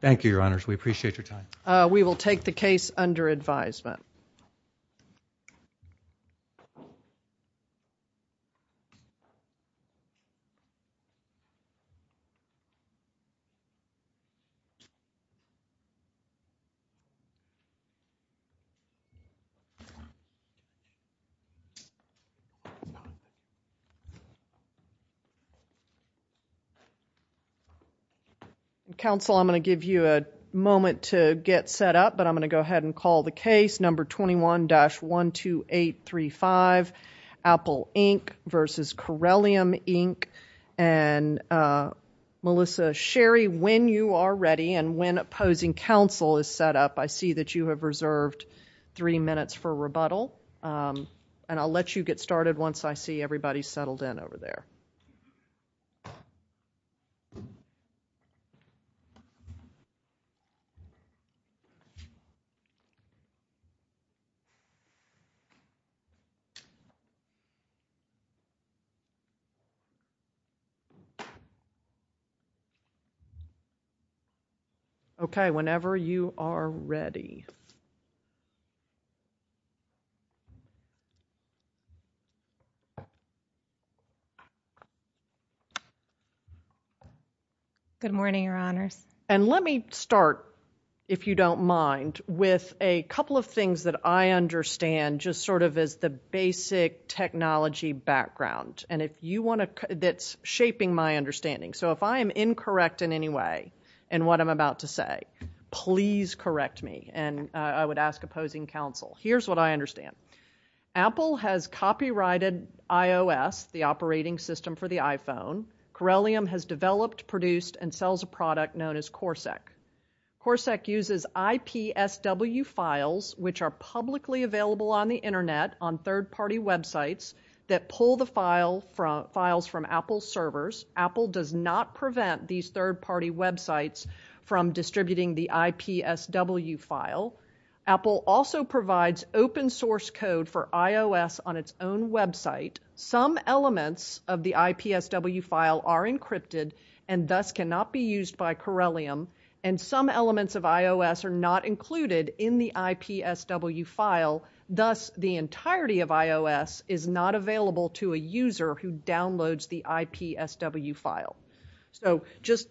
Thank you, Your Honors. We appreciate your time. Uh, we will take the case under advisement. Counsel, I'm going to give you a moment to get set up, but I'm going to go ahead and I'll let you get started once I see everybody's settled in over there. Okay. Whenever you are ready. Okay. Good morning, your honors. And let me start, if you don't mind, with a couple of things that I understand just sort of as the basic technology background. And if you want to, that's shaping my understanding. So if I am incorrect in any way in what I'm about to say, please correct me and I would ask opposing counsel. Here's what I understand. Apple has copyrighted iOS, the operating system for the iPhone. Corellium has developed, produced, and sells a product known as Corsac. Corsac uses IPSW files, which are publicly available on the internet on third-party websites that pull the files from Apple's servers. Apple does not prevent these third-party websites from distributing the IPSW file. Apple also provides open source code for iOS on its own website. Some elements of the IPSW file are encrypted and thus cannot be used by Corellium. And some elements of iOS are not included in the IPSW file, thus the entirety of iOS is not available to a user who downloads the IPSW file. So just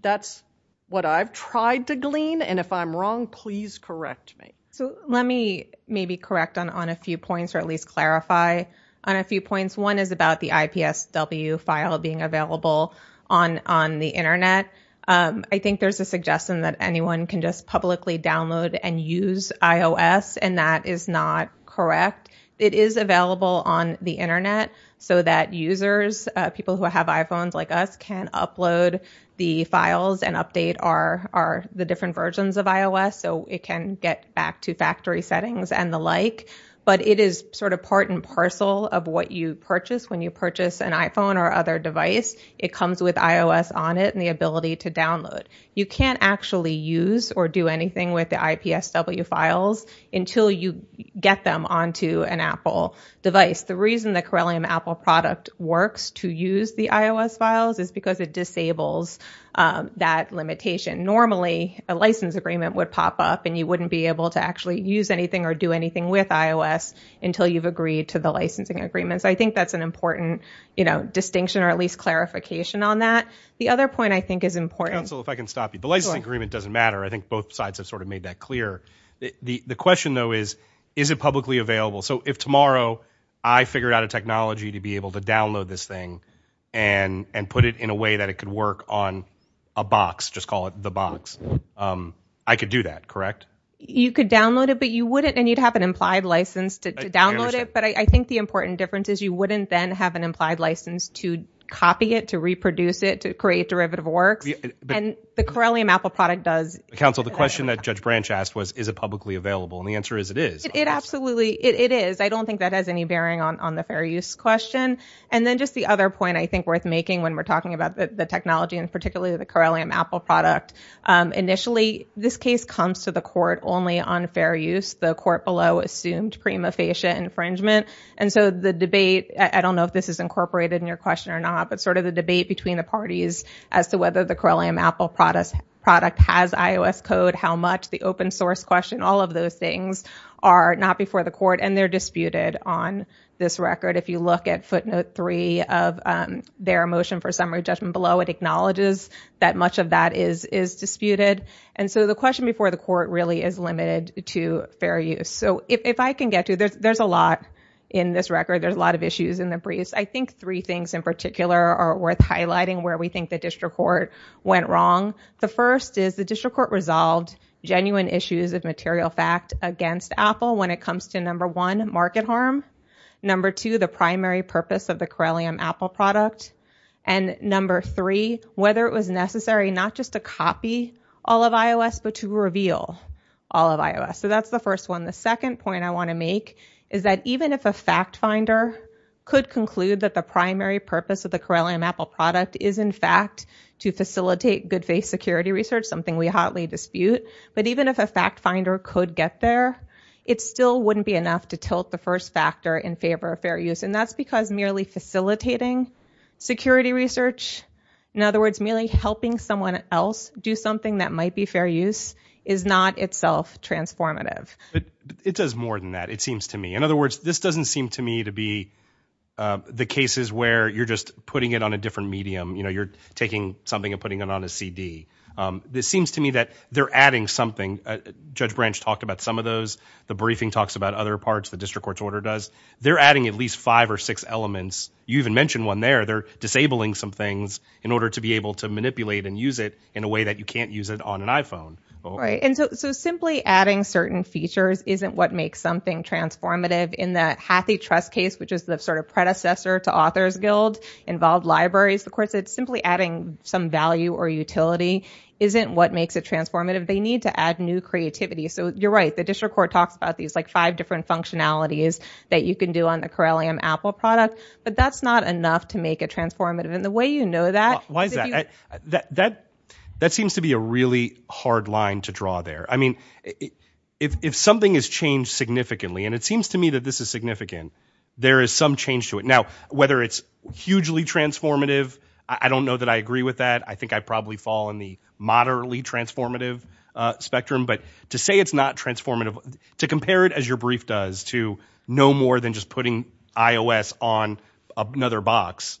that's what I've tried to glean. And if I'm wrong, please correct me. So let me maybe correct on a few points or at least clarify on a few points. One is about the IPSW file being available on the internet. I think there's a suggestion that anyone can just publicly download and use iOS, and that is not correct. It is available on the internet so that users, people who have iPhones like us, can upload the files and update the different versions of iOS so it can get back to factory settings and the like. But it is sort of part and parcel of what you purchase when you purchase an iPhone or other device. It comes with iOS on it and the ability to download. You can't actually use or do anything with the IPSW files until you get them onto an Apple device. The reason the Corellium Apple product works to use the iOS files is because it disables that limitation. Normally, a license agreement would pop up and you wouldn't be able to actually use anything or do anything with iOS until you've agreed to the licensing agreements. I think that's an important distinction or at least clarification on that. The other point I think is important. Council, if I can stop you. Sure. The license agreement doesn't matter. I think both sides have sort of made that clear. The question though is, is it publicly available? So if tomorrow I figured out a technology to be able to download this thing and put it in a way that it could work on a box, just call it the box, I could do that, correct? You could download it, but you wouldn't and you'd have an implied license to download it. But I think the important difference is you wouldn't then have an implied license to copy it, to reproduce it, to create derivative works. And the Corellium Apple product does. Council, the question that Judge Branch asked was, is it publicly available? And the answer is it is. It absolutely is. It is. I don't think that has any bearing on the fair use question. And then just the other point I think worth making when we're talking about the technology and particularly the Corellium Apple product, initially this case comes to the court only on fair use. The court below assumed prima facie infringement. And so the debate, I don't know if this is incorporated in your question or not, but sort of the debate between the parties as to whether the Corellium Apple product has iOS code, how much, the open source question, all of those things are not before the court. And they're disputed on this record. If you look at footnote three of their motion for summary judgment below, it acknowledges that much of that is disputed. And so the question before the court really is limited to fair use. So if I can get to it, there's a lot in this record. There's a lot of issues in the briefs. I think three things in particular are worth highlighting where we think the district court went wrong. The first is the district court resolved genuine issues of material fact against Apple when it comes to, number one, market harm. Number two, the primary purpose of the Corellium Apple product. And number three, whether it was necessary not just to copy all of iOS, but to reveal all of iOS. So that's the first one. The second point I want to make is that even if a fact finder could conclude that the primary purpose of the Corellium Apple product is, in fact, to facilitate good faith security research, something we hotly dispute. But even if a fact finder could get there, it still wouldn't be enough to tilt the first factor in favor of fair use. And that's because merely facilitating security research, in other words, merely helping someone else do something that might be fair use, is not itself transformative. It does more than that, it seems to me. In other words, this doesn't seem to me to be the cases where you're just putting it on a different medium. You know, you're taking something and putting it on a CD. This seems to me that they're adding something. Judge Branch talked about some of those. The briefing talks about other parts, the district court's order does. They're adding at least five or six elements. You even mentioned one there. They're disabling some things in order to be able to manipulate and use it in a way that you can't use it on an iPhone. Right. And so simply adding certain features isn't what makes something transformative. In that HathiTrust case, which is the sort of predecessor to Authors Guild, involved libraries, of course, it's simply adding some value or utility isn't what makes it transformative. They need to add new creativity. So you're right. The district court talks about these like five different functionalities that you can do on the Corellium Apple product. But that's not enough to make it transformative. And the way you know that- Why is that? That seems to be a really hard line to draw there. I mean, if something has changed significantly, and it seems to me that this is significant, there is some change to it. Now, whether it's hugely transformative, I don't know that I agree with that. I think I probably fall in the moderately transformative spectrum. But to say it's not transformative, to compare it as your brief does to no more than just putting iOS on another box,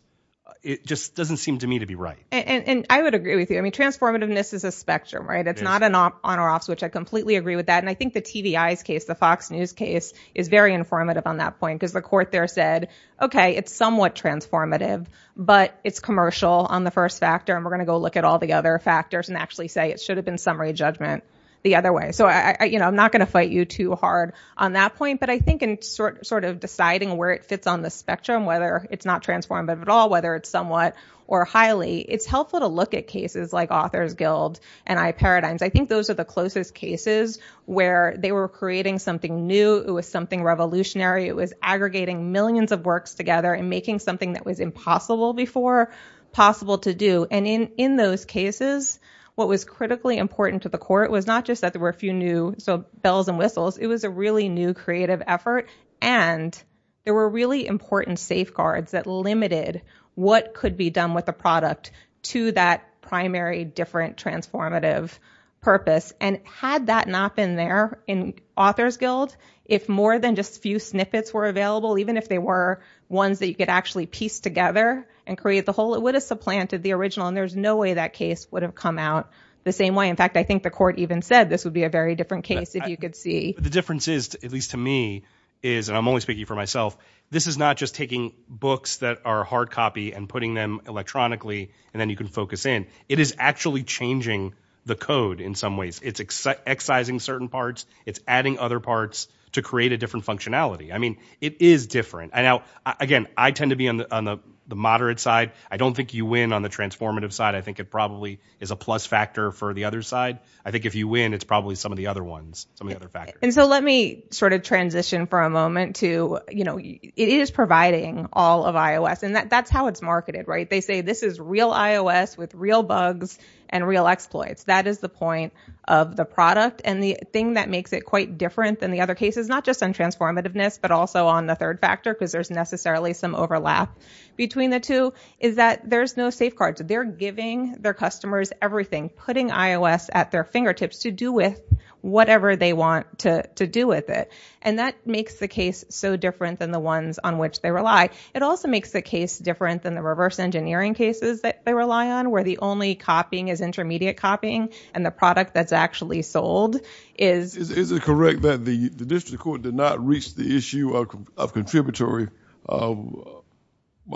it just doesn't seem to me to be right. And I would agree with you. I mean, transformativeness is a spectrum, right? It's not an on or off switch. I completely agree with that. And I think the TVI's case, the Fox News case, is very informative on that point, because the court there said, okay, it's somewhat transformative, but it's commercial on the first factor. And we're going to go look at all the other factors and actually say it should have been summary judgment the other way. So I'm not going to fight you too hard on that point. But I think in sort of deciding where it fits on the spectrum, whether it's not transformative at all, whether it's somewhat or highly, it's helpful to look at cases like Authors Guild and iParadigms. I think those are the closest cases where they were creating something new. It was something revolutionary. It was aggregating millions of works together and making something that was impossible before possible to do. And in those cases, what was critically important to the court was not just that there were a few new bells and whistles, it was a really new creative effort. And there were really important safeguards that limited what could be done with the product to that primary, different, transformative purpose. And had that not been there in Authors Guild, if more than just a few snippets were available, even if they were ones that you could actually piece together and create the whole, it would have supplanted the original, and there's no way that case would have come out the same way. In fact, I think the court even said this would be a very different case, if you could see. The difference is, at least to me, is, and I'm only speaking for myself, this is not just taking books that are hard copy and putting them electronically, and then you can focus in. It is actually changing the code in some ways. It's excising certain parts. It's adding other parts to create a different functionality. I mean, it is different. Now, again, I tend to be on the moderate side. I don't think you win on the transformative side. I think it probably is a plus factor for the other side. I think if you win, it's probably some of the other ones, some of the other factors. Let me sort of transition for a moment to, it is providing all of iOS, and that's how it's marketed, right? They say this is real iOS with real bugs and real exploits. That is the point of the product, and the thing that makes it quite different than the other cases, not just on transformativeness, but also on the third factor, because there's necessarily some overlap between the two, is that there's no safeguards. They're giving their customers everything, putting iOS at their fingertips to do with whatever they want to do with it, and that makes the case so different than the ones on which they rely. It also makes the case different than the reverse engineering cases that they rely on, where the only copying is intermediate copying, and the product that's actually sold is- Is it correct that the district court did not reach the issue of contributory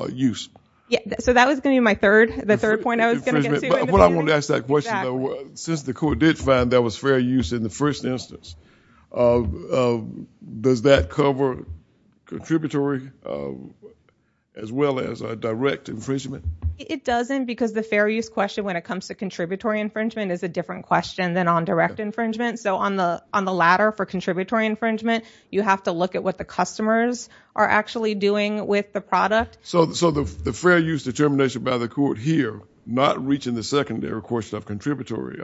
use? Yeah, so that was going to be my third, the third point I was going to get to. What I want to ask that question, though, since the court did find there was fair use in the first instance, does that cover contributory as well as direct infringement? It doesn't, because the fair use question when it comes to contributory infringement is a different question than on direct infringement, so on the ladder for contributory infringement, you have to look at what the customers are actually doing with the product. So the fair use determination by the court here, not reaching the secondary portion of contributory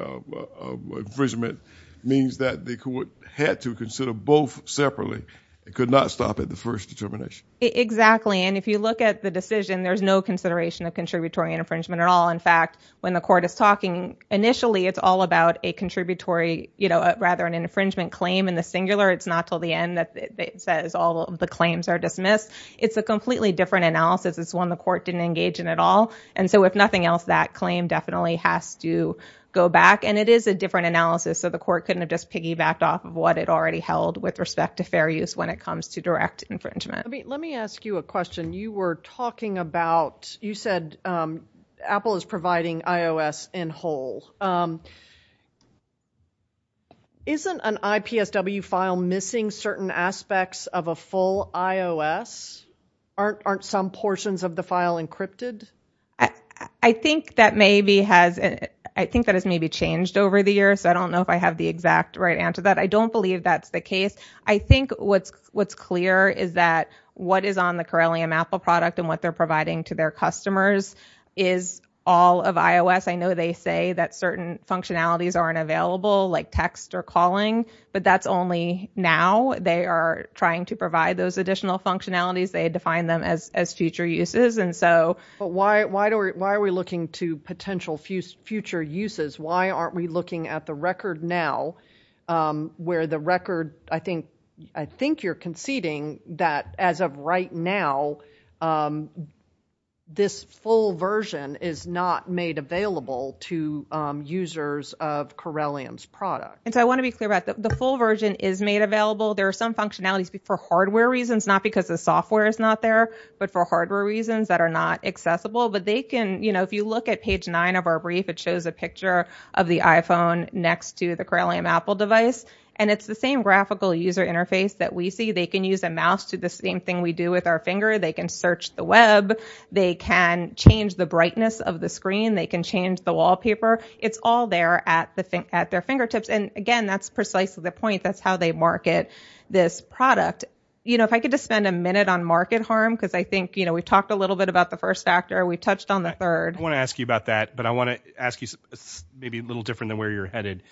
infringement, means that the court had to consider both separately. It could not stop at the first determination. Exactly, and if you look at the decision, there's no consideration of contributory infringement at all. In fact, when the court is talking, initially, it's all about a contributory, you know, rather an infringement claim in the singular. It's not till the end that it says all of the claims are dismissed. It's a completely different analysis. It's one the court didn't engage in at all, and so if nothing else, that claim definitely has to go back, and it is a different analysis, so the court couldn't have just piggybacked off of what it already held with respect to fair use when it comes to direct infringement. Let me ask you a question. You were talking about, you said Apple is providing iOS in whole. Isn't an IPSW file missing certain aspects of a full iOS? Aren't some portions of the file encrypted? I think that maybe has changed over the years, so I don't know if I have the exact right answer to that. I don't believe that's the case. I think what's clear is that what is on the Corellium Apple product and what they're providing to their customers is all of iOS. I know they say that certain functionalities aren't available, like text or calling, but that's only now. They are trying to provide those additional functionalities. They define them as future uses, and so... But why are we looking to potential future uses? Why aren't we looking at the record now, where the record, I think you're conceding that as of right now, this full version is not made available to users of Corellium's product? I want to be clear about that. The full version is made available. There are some functionalities for hardware reasons, not because the software is not there, but for hardware reasons that are not accessible. If you look at page nine of our brief, it shows a picture of the iPhone next to the Corellium Apple device. It's the same graphical user interface that we see. They can use a mouse to do the same thing we do with our finger. They can search the web. They can change the brightness of the screen. They can change the wallpaper. It's all there at their fingertips, and again, that's precisely the point. That's how they market this product. If I could just spend a minute on market harm, because I think we've talked a little bit about the first factor. We've touched on the third. I want to ask you about that, but I want to ask you maybe a little different than where you're headed.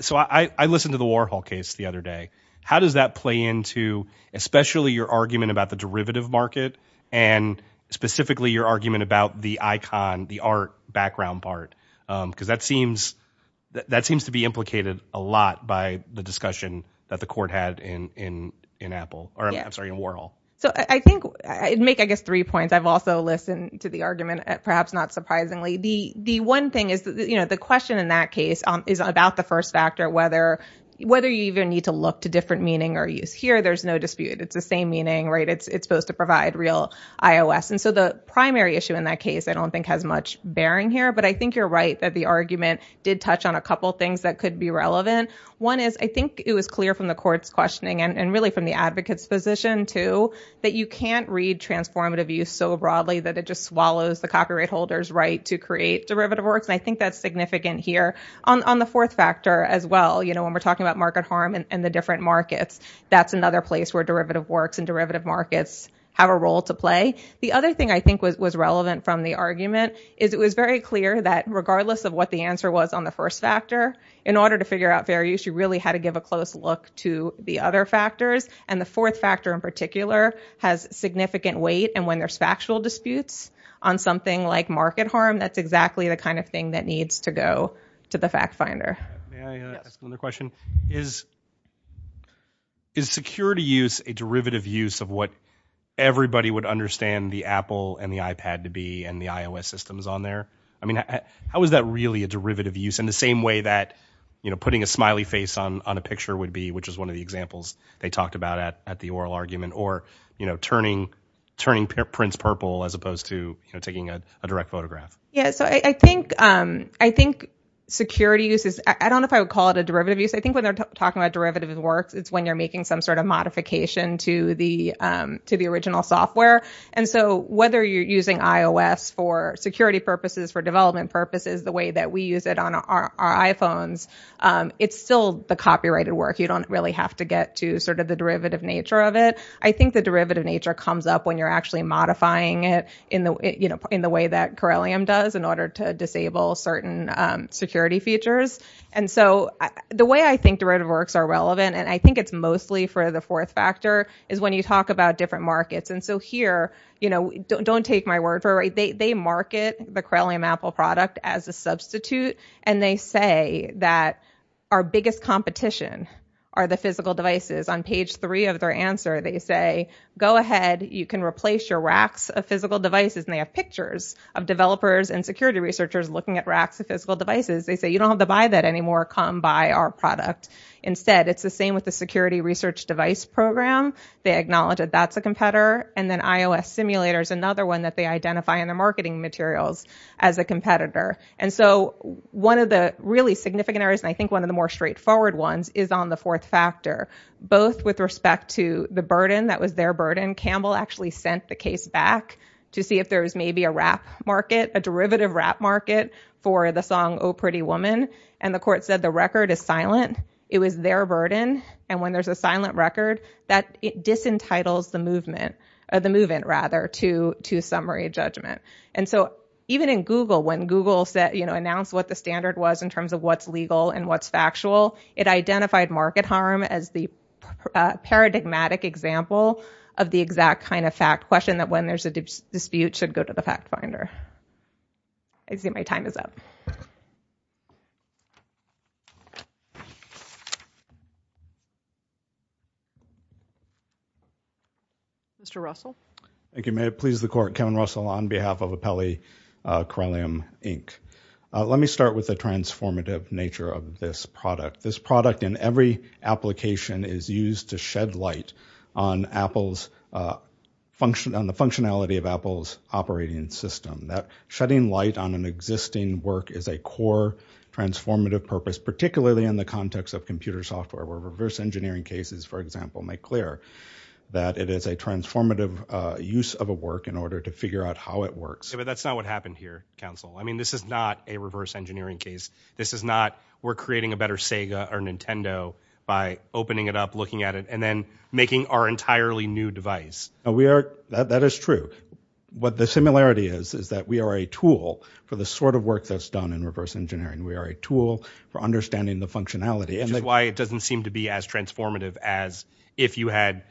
So, I listened to the Warhol case the other day. How does that play into especially your argument about the derivative market, and specifically your argument about the icon, the art background part? Because that seems to be implicated a lot by the discussion that the court had in Warhol. I'd make, I guess, three points. I've also listened to the argument, perhaps not surprisingly. The one thing is the question in that case is about the first factor, whether you even need to look to different meaning or use. Here there's no dispute. It's the same meaning, right? It's supposed to provide real iOS, and so the primary issue in that case I don't think has much bearing here, but I think you're right that the argument did touch on a couple things that could be relevant. One is I think it was clear from the court's questioning, and really from the advocate's position, too, that you can't read transformative use so broadly that it just swallows the copyright holder's right to create derivative works, and I think that's significant here. On the fourth factor as well, when we're talking about market harm and the different markets, that's another place where derivative works and derivative markets have a role to play. The other thing I think was relevant from the argument is it was very clear that regardless of what the answer was on the first factor, in order to figure out fair use, you really had to give a close look to the other factors, and the fourth factor in particular has significant weight, and when there's factual disputes on something like market harm, that's exactly the kind of thing that needs to go to the fact finder. May I ask another question? Yes. Is security use a derivative use of what everybody would understand the Apple and the iPad to be and the iOS systems on there? How is that really a derivative use in the same way that putting a smiley face on a picture would be, which is one of the examples they talked about at the oral argument, or turning prints purple as opposed to taking a direct photograph? I think security use is, I don't know if I would call it a derivative use. I think when they're talking about derivative works, it's when you're making some sort of modification to the original software, and so whether you're using iOS for security purposes, for development purposes, the way that we use it on our iPhones, it's still the copyrighted work. You don't really have to get to the derivative nature of it. I think the derivative nature comes up when you're actually modifying it in the way that it does in order to disable certain security features. The way I think derivative works are relevant, and I think it's mostly for the fourth factor, is when you talk about different markets. Here, don't take my word for it. They market the Corellium Apple product as a substitute, and they say that our biggest competition are the physical devices. On page three of their answer, they say, go ahead, you can replace your racks of physical devices, and they have pictures of developers and security researchers looking at racks of physical devices. They say, you don't have to buy that anymore. Come buy our product. Instead, it's the same with the security research device program. They acknowledge that that's a competitor, and then iOS simulators, another one that they identify in their marketing materials as a competitor. One of the really significant areas, and I think one of the more straightforward ones, is on the fourth factor, both with respect to the burden that was their burden. Campbell actually sent the case back to see if there was maybe a rap market, a derivative rap market for the song, Oh Pretty Woman, and the court said the record is silent. It was their burden, and when there's a silent record, that disentitles the movement to summary judgment. Even in Google, when Google announced what the standard was in terms of what's legal and what's factual, it identified market harm as the paradigmatic example of the exact kind of fact question that when there's a dispute, should go to the fact finder. I see my time is up. Mr. Russell? Thank you. May it please the court, Kevin Russell on behalf of Apelli Corellium Inc. Let me start with the transformative nature of this product. This product in every application is used to shed light on the functionality of Apple's operating system. Shedding light on an existing work is a core transformative purpose, particularly in the context of computer software, where reverse engineering cases, for example, make clear that it is a transformative use of a work in order to figure out how it works. That's not what happened here, counsel. This is not a reverse engineering case. This is not we're creating a better Sega or Nintendo by opening it up, looking at it, and then making our entirely new device. That is true. What the similarity is, is that we are a tool for the sort of work that's done in reverse engineering. We are a tool for understanding the functionality. Which is why it doesn't seem to be as transformative as if you had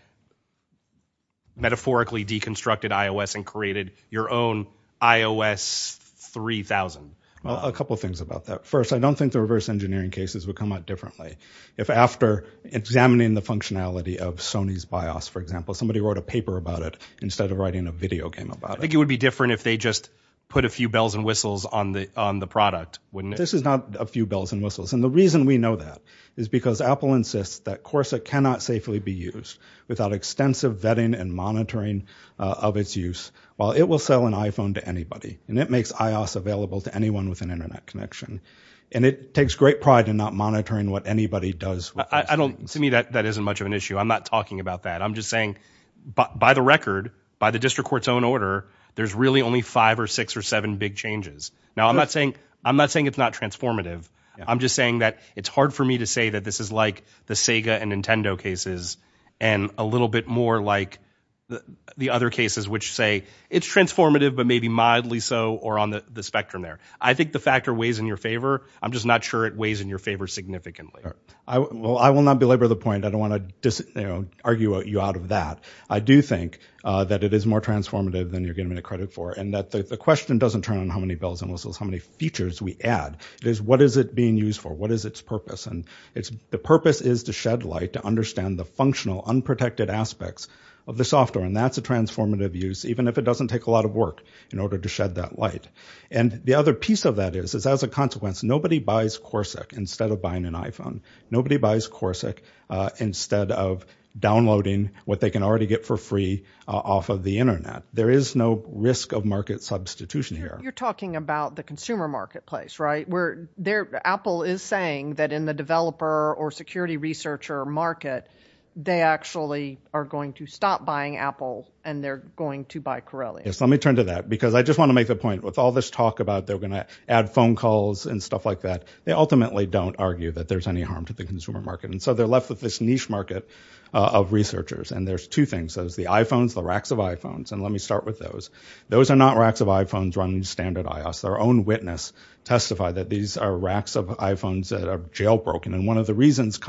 metaphorically deconstructed your own iOS 3000. Well, a couple of things about that. First, I don't think the reverse engineering cases would come out differently if after examining the functionality of Sony's BIOS, for example, somebody wrote a paper about it instead of writing a video game about it. I think it would be different if they just put a few bells and whistles on the on the product, wouldn't it? This is not a few bells and whistles. And the reason we know that is because Apple insists that Corsa cannot safely be used without extensive vetting and monitoring of its use. While it will sell an iPhone to anybody, and it makes iOS available to anyone with an internet connection. And it takes great pride in not monitoring what anybody does. To me, that isn't much of an issue. I'm not talking about that. I'm just saying, by the record, by the district court's own order, there's really only five or six or seven big changes. Now I'm not saying it's not transformative. I'm just saying that it's hard for me to say that this is like the Sega and Nintendo cases and a little bit more like the other cases which say it's transformative, but maybe mildly so or on the spectrum there. I think the factor weighs in your favor. I'm just not sure it weighs in your favor significantly. Well, I will not belabor the point. I don't want to argue you out of that. I do think that it is more transformative than you're getting credit for. And that the question doesn't turn on how many bells and whistles, how many features we add, it is what is it being used for? What is its purpose? And the purpose is to shed light, to understand the functional unprotected aspects of the software. And that's a transformative use, even if it doesn't take a lot of work in order to shed that light. And the other piece of that is, is as a consequence, nobody buys Corsic instead of buying an iPhone. Nobody buys Corsic instead of downloading what they can already get for free off of the Internet. There is no risk of market substitution here. You're talking about the consumer marketplace, right? Apple is saying that in the developer or security researcher market, they actually are going to stop buying Apple and they're going to buy Corellia. Yes, let me turn to that. Because I just want to make the point, with all this talk about they're going to add phone calls and stuff like that, they ultimately don't argue that there's any harm to the consumer market. And so they're left with this niche market of researchers. And there's two things. There's the iPhones, the racks of iPhones. And let me start with those. Those are not racks of iPhones running standard iOS. Their own witness testified that these are racks of iPhones that are jailbroken. And one of the reasons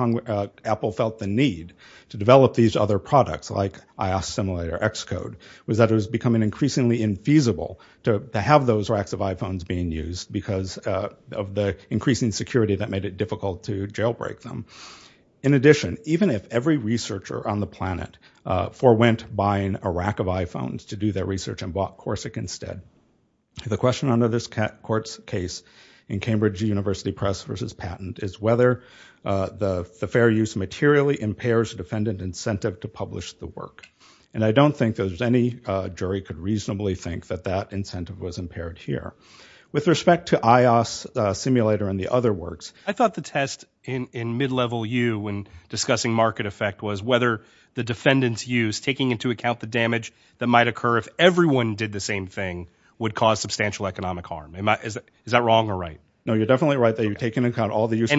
Apple felt the need to develop these other products, like iOS Simulator, Xcode, was that it was becoming increasingly infeasible to have those racks of iPhones being used because of the increasing security that made it difficult to jailbreak them. In addition, even if every researcher on the planet forewent buying a rack of iPhones to do their research and bought Corsic instead, the question under this court's case in Cambridge University Press v. Patent is whether the fair use materially impairs defendant incentive to publish the work. And I don't think that any jury could reasonably think that that incentive was impaired here. With respect to iOS Simulator and the other works, I thought the test in mid-level U when discussing market effect was whether the defendant's use, taking into account the damage that might Is that wrong or right? No, you're definitely right there. You're taking into account all the uses.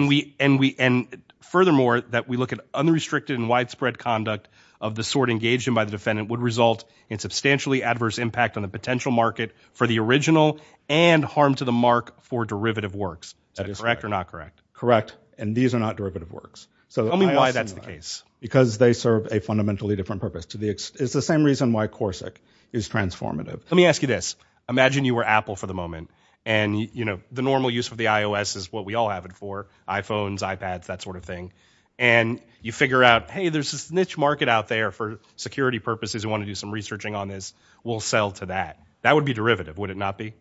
And furthermore, that we look at unrestricted and widespread conduct of the sort engaged in by the defendant would result in substantially adverse impact on the potential market for the original and harm to the mark for derivative works. Is that correct or not correct? Correct. And these are not derivative works. Tell me why that's the case. Because they serve a fundamentally different purpose. It's the same reason why Corsic is transformative. Let me ask you this. Imagine you were Apple for the moment. And you know, the normal use of the iOS is what we all have it for, iPhones, iPads, that sort of thing. And you figure out, hey, there's this niche market out there for security purposes who want to do some researching on this. We'll sell to that. That would be derivative. Would it not be?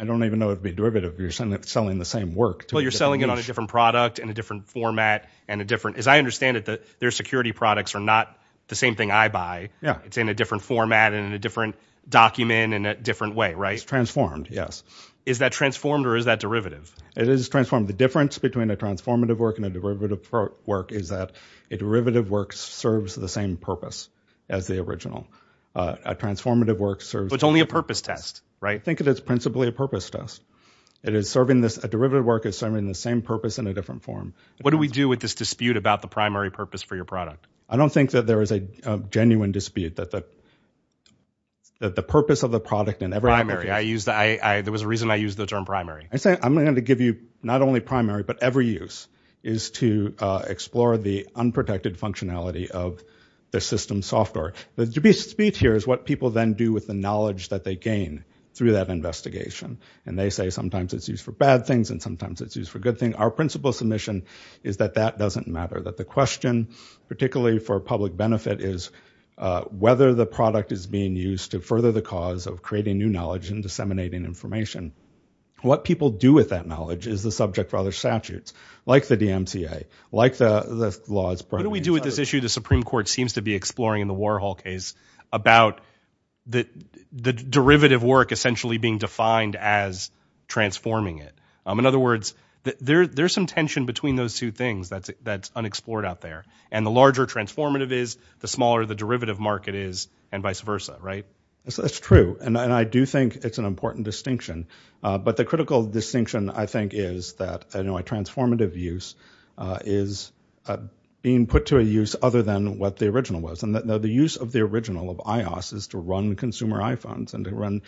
I don't even know it'd be derivative. You're selling the same work. Well, you're selling it on a different product in a different format and a different, as I understand it, their security products are not the same thing I buy. It's in a different format and in a different document in a different way, right? It's transformed, yes. Is that transformed or is that derivative? It is transformed. The difference between a transformative work and a derivative work is that a derivative work serves the same purpose as the original. A transformative work serves... It's only a purpose test, right? Think of it as principally a purpose test. It is serving this, a derivative work is serving the same purpose in a different form. What do we do with this dispute about the primary purpose for your product? I don't think that there is a genuine dispute that the purpose of the product in every... Primary. There was a reason I used the term primary. I'm going to give you not only primary, but every use is to explore the unprotected functionality of the system software. The dispute here is what people then do with the knowledge that they gain through that investigation and they say sometimes it's used for bad things and sometimes it's used for good things. Our principle submission is that that doesn't matter. That the question, particularly for public benefit, is whether the product is being used to further the cause of creating new knowledge and disseminating information. What people do with that knowledge is the subject for other statutes, like the DMCA, like the laws... What do we do with this issue the Supreme Court seems to be exploring in the Warhol case about the derivative work essentially being defined as transforming it? In other words, there's some tension between those two things that's unexplored out there. And the larger transformative is, the smaller the derivative market is and vice versa, right? That's true. And I do think it's an important distinction. But the critical distinction I think is that transformative use is being put to a use other than what the original was. The use of the original of iOS is to run consumer iPhones and to run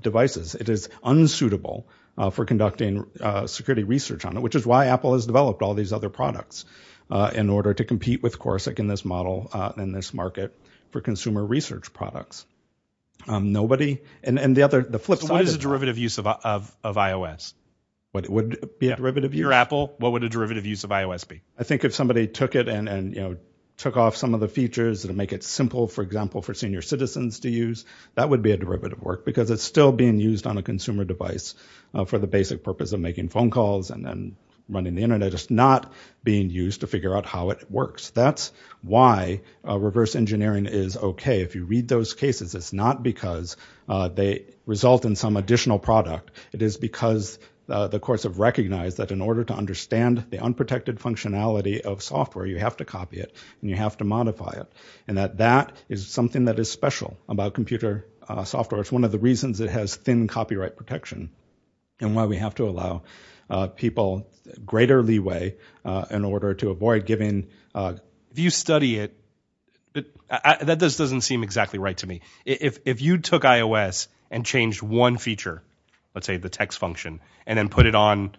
devices. It is unsuitable for conducting security research on it, which is why Apple has developed all these other products in order to compete with Corsic in this model and this market for consumer research products. Nobody... And the flip side of that... So what is the derivative use of iOS? What would be a derivative use? Your Apple, what would a derivative use of iOS be? I think if somebody took it and took off some of the features and make it simple, for example, for senior citizens to use, that would be a derivative work. Because it's still being used on a consumer device for the basic purpose of making phone calls and then running the Internet. It's not being used to figure out how it works. That's why reverse engineering is okay. If you read those cases, it's not because they result in some additional product. It is because the courts have recognized that in order to understand the unprotected functionality of software, you have to copy it and you have to modify it. And that that is something that is special about computer software. It's one of the reasons it has thin copyright protection. And why we have to allow people greater leeway in order to avoid giving... If you study it, that doesn't seem exactly right to me. If you took iOS and changed one feature, let's say the text function, and then put it on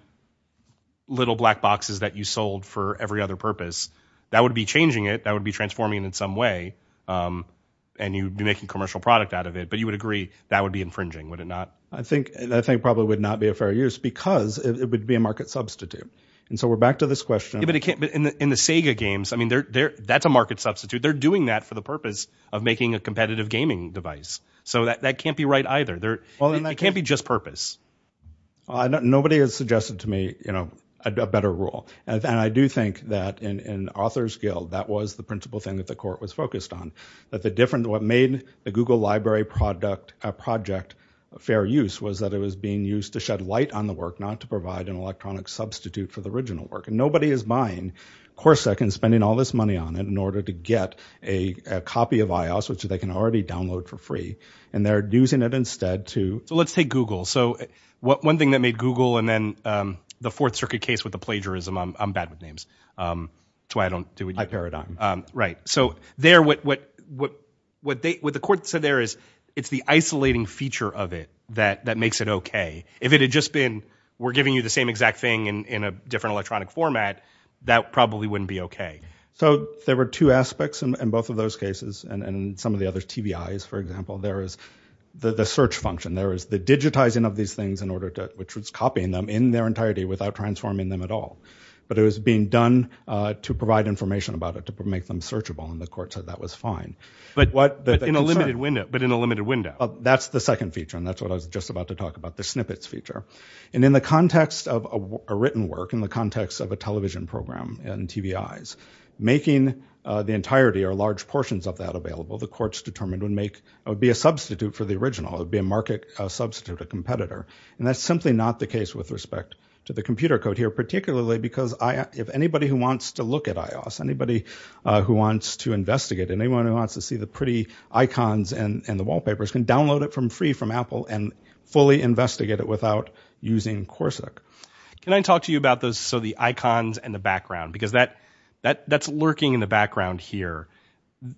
little black boxes that you sold for every other purpose, that would be changing it. That would be transforming it in some way. And you'd be making commercial product out of it. But you would agree that would be infringing, would it not? I think probably would not be a fair use because it would be a market substitute. And so we're back to this question. Yeah, but it can't... In the Sega games, I mean, that's a market substitute. They're doing that for the purpose of making a competitive gaming device. So that can't be right either. It can't be just purpose. Nobody has suggested to me a better rule. And I do think that in Authors Guild, that was the principal thing that the court was focused on. What made the Google library project a fair use was that it was being used to shed light on the work, not to provide an electronic substitute for the original work. And nobody is buying Corsac and spending all this money on it in order to get a copy of iOS, which they can already download for free. And they're using it instead to... Let's take Google. So one thing that made Google, and then the Fourth Circuit case with the plagiarism, I'm bad with names. That's why I don't do it. High paradigm. Right. So there, what the court said there is, it's the isolating feature of it that makes it okay. If it had just been, we're giving you the same exact thing in a different electronic format, that probably wouldn't be okay. So there were two aspects in both of those cases, and some of the other TBIs, for example. There is the search function. There is the digitizing of these things in order to... Which was copying them in their entirety without transforming them at all. But it was being done to provide information about it to make them searchable, and the court said that was fine. But what... But in a limited window. But in a limited window. That's the second feature, and that's what I was just about to talk about, the snippets feature. And in the context of a written work, in the context of a television program and TBIs, making the entirety or large portions of that available, the courts determined would make... It would be a substitute for the original. It would be a market substitute, a competitor. And that's simply not the case with respect to the computer code here, particularly because I... If anybody who wants to look at iOS, anybody who wants to investigate, anyone who wants to see the pretty icons and the wallpapers can download it free from Apple and fully investigate it without using Corsic. Can I talk to you about those... So the icons and the background. Because that's lurking in the background here.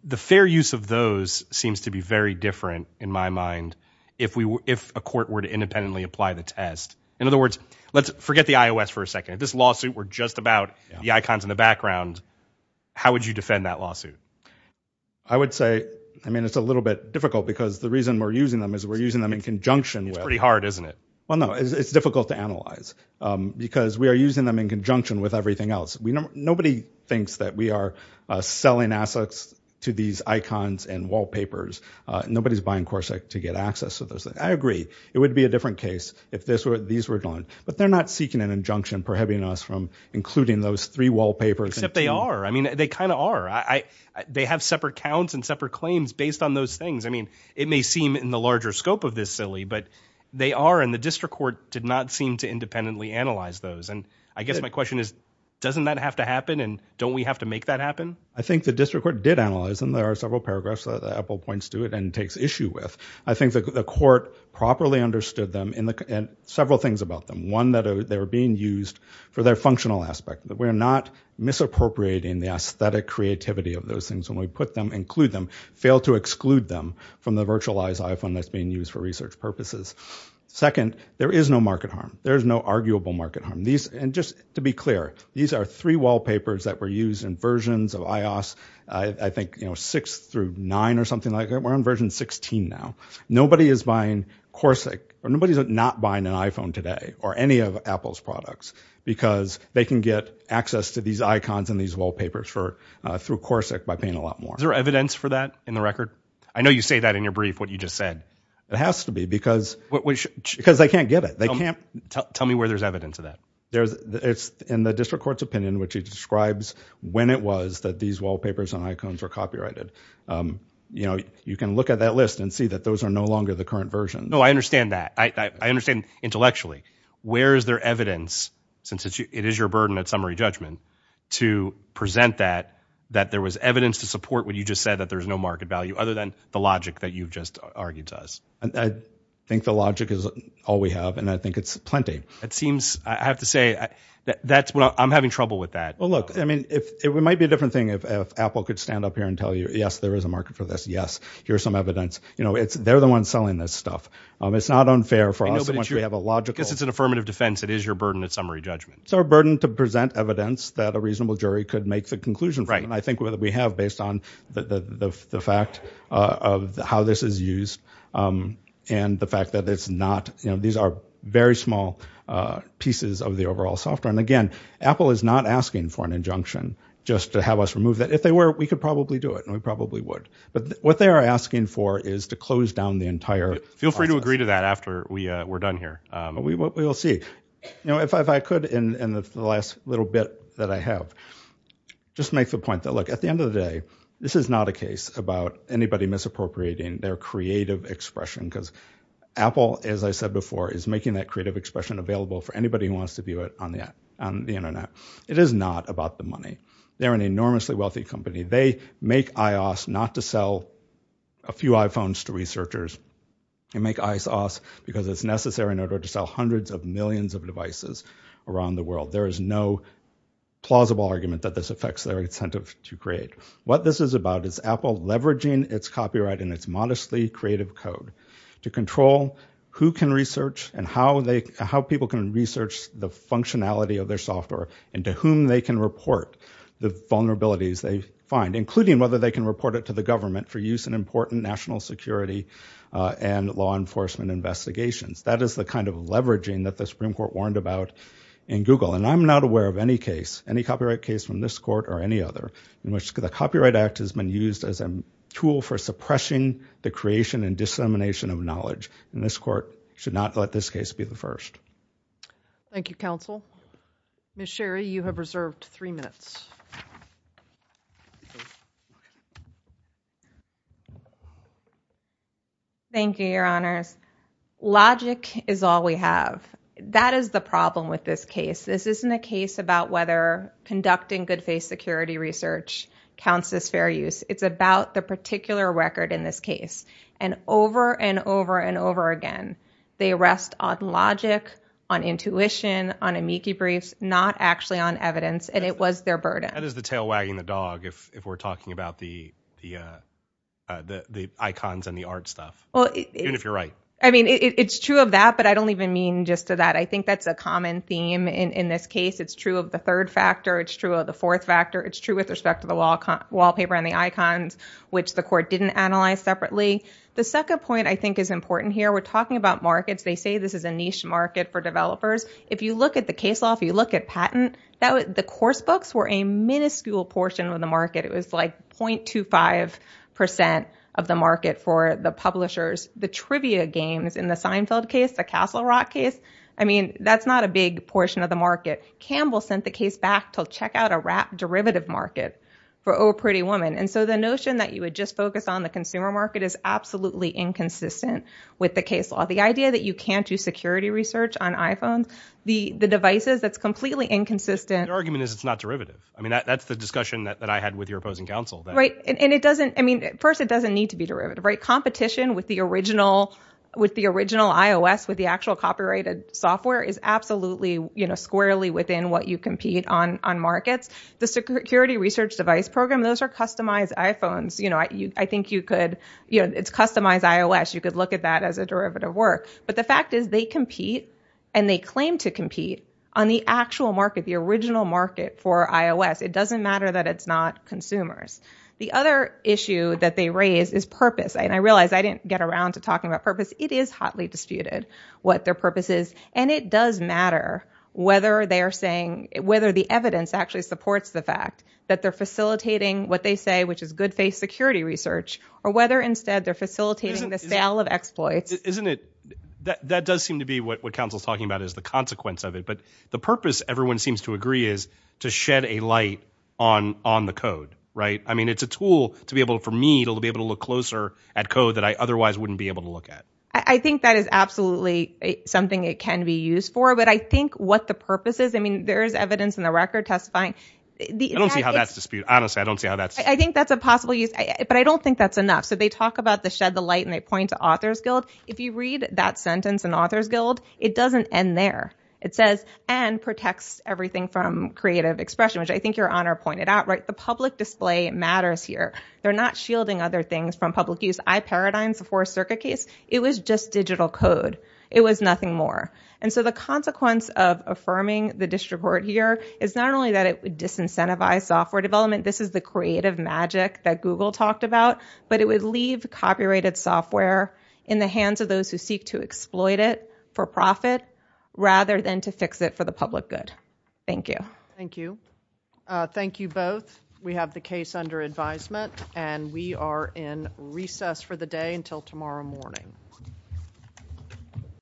The fair use of those seems to be very different, in my mind, if a court were to independently apply the test. In other words, let's forget the iOS for a second. If this lawsuit were just about the icons in the background, how would you defend that lawsuit? I would say... I mean, it's a little bit difficult because the reason we're using them is we're using them in conjunction with... It's pretty hard, isn't it? Well, no. It's difficult to analyze because we are using them in conjunction with everything else. Nobody thinks that we are selling assets to these icons and wallpapers. Nobody's buying Corsic to get access to those. I agree. It would be a different case if these were gone. But they're not seeking an injunction prohibiting us from including those three wallpapers. Except they are. I mean, they kind of are. They have separate counts and separate claims based on those things. I mean, it may seem in the larger scope of this silly, but they are, and the district court did not seem to independently analyze those. And I guess my question is, doesn't that have to happen? And don't we have to make that happen? I think the district court did analyze them. There are several paragraphs that Apple points to it and takes issue with. I think the court properly understood them and several things about them. One, that they were being used for their functional aspect, that we're not misappropriating the aesthetic creativity of those things when we put them, include them, fail to exclude them from the virtualized iPhone that's being used for research purposes. Second, there is no market harm. There's no arguable market harm. To be clear, these are three wallpapers that were used in versions of iOS, I think six through nine or something like that. We're on version 16 now. Nobody is buying Corsic, or nobody's not buying an iPhone today, or any of Apple's products, because they can get access to these icons and these wallpapers through Corsic by paying a lot more. Is there evidence for that in the record? I know you say that in your brief, what you just said. It has to be, because they can't get it. Tell me where there's evidence of that. In the district court's opinion, which he describes when it was that these wallpapers and icons were copyrighted, you can look at that list and see that those are no longer the current version. No, I understand that. I understand intellectually. Where is there evidence, since it is your burden at summary judgment, to present that, that there was evidence to support what you just said, that there's no market value, other than the logic that you've just argued to us? I think the logic is all we have, and I think it's plenty. It seems, I have to say, I'm having trouble with that. Well, look, it might be a different thing if Apple could stand up here and tell you, yes, there is a market for this. Yes, here's some evidence. They're the ones selling this stuff. It's not unfair for us once we have a logical- I guess it's an affirmative defense. It is your burden at summary judgment. It's our burden to present evidence that a reasonable jury could make the conclusion from, and I think we have, based on the fact of how this is used. And the fact that it's not, these are very small pieces of the overall software. And again, Apple is not asking for an injunction just to have us remove that. If they were, we could probably do it, and we probably would. But what they are asking for is to close down the entire process. Feel free to agree to that after we're done here. We'll see. If I could, in the last little bit that I have, just make the point that, look, at the Apple, as I said before, is making that creative expression available for anybody who wants to view it on the internet. It is not about the money. They're an enormously wealthy company. They make iOS not to sell a few iPhones to researchers. They make iOS because it's necessary in order to sell hundreds of millions of devices around the world. There is no plausible argument that this affects their incentive to create. What this is about is Apple leveraging its copyright and its modestly creative code. To control who can research and how people can research the functionality of their software and to whom they can report the vulnerabilities they find, including whether they can report it to the government for use in important national security and law enforcement investigations. That is the kind of leveraging that the Supreme Court warned about in Google. And I'm not aware of any case, any copyright case from this court or any other in which the Copyright Act has been used as a tool for suppressing the creation and dissemination of knowledge. And this court should not let this case be the first. Thank you, counsel. Ms. Sherry, you have reserved three minutes. Thank you, your honors. Logic is all we have. That is the problem with this case. This isn't a case about whether conducting good faith security research counts as fair use. It's about the particular record in this case. And over and over and over again, they rest on logic, on intuition, on amici briefs, not actually on evidence. And it was their burden. That is the tail wagging the dog. If we're talking about the icons and the art stuff, even if you're right. I mean, it's true of that, but I don't even mean just to that. I think that's a common theme in this case. It's true of the third factor. It's true of the fourth factor. It's true with respect to the wallpaper and the icons, which the court didn't analyze separately. The second point I think is important here. We're talking about markets. They say this is a niche market for developers. If you look at the case law, if you look at patent, the course books were a minuscule portion of the market. It was like 0.25% of the market for the publishers. The trivia games in the Seinfeld case, the Castle Rock case, I mean, that's not a big portion of the market. Campbell sent the case back to check out a rap derivative market for Oh Pretty Woman. So the notion that you would just focus on the consumer market is absolutely inconsistent with the case law. The idea that you can't do security research on iPhones, the devices, that's completely inconsistent. The argument is it's not derivative. I mean, that's the discussion that I had with your opposing counsel. Right, and it doesn't, I mean, first, it doesn't need to be derivative, right? Competition with the original iOS, with the actual copyrighted software is absolutely squarely within what you compete on markets. The security research device program, those are customized iPhones. You know, I think you could, you know, it's customized iOS. You could look at that as a derivative work. But the fact is they compete and they claim to compete on the actual market, the original market for iOS. It doesn't matter that it's not consumers. The other issue that they raise is purpose. And I realize I didn't get around to talking about purpose. It is hotly disputed what their purpose is. And it does matter whether they're saying, whether the evidence actually supports the fact that they're facilitating what they say, which is good faith security research, or whether instead they're facilitating the sale of exploits. Isn't it, that does seem to be what counsel's talking about is the consequence of it. But the purpose, everyone seems to agree, is to shed a light on the code, right? I mean, it's a tool to be able, for me, to be able to look closer at code that I otherwise wouldn't be able to look at. I think that is absolutely something it can be used for. But I think what the purpose is, I mean, there is evidence in the record testifying. I don't see how that's disputed. Honestly, I don't see how that's... I think that's a possible use. But I don't think that's enough. So they talk about the shed the light and they point to Authors Guild. If you read that sentence in Authors Guild, it doesn't end there. It says, and protects everything from creative expression, which I think Your Honor pointed out, right? The public display matters here. They're not shielding other things from public use. IParadigms, the Fourth Circuit case, it was just digital code. It was nothing more. And so the consequence of affirming the disreport here is not only that it would disincentivize software development. This is the creative magic that Google talked about. But it would leave copyrighted software in the hands of those who seek to exploit it for profit rather than to fix it for the public good. Thank you. Thank you. Thank you both. We have the case under advisement. And we are in recess for the day until tomorrow morning.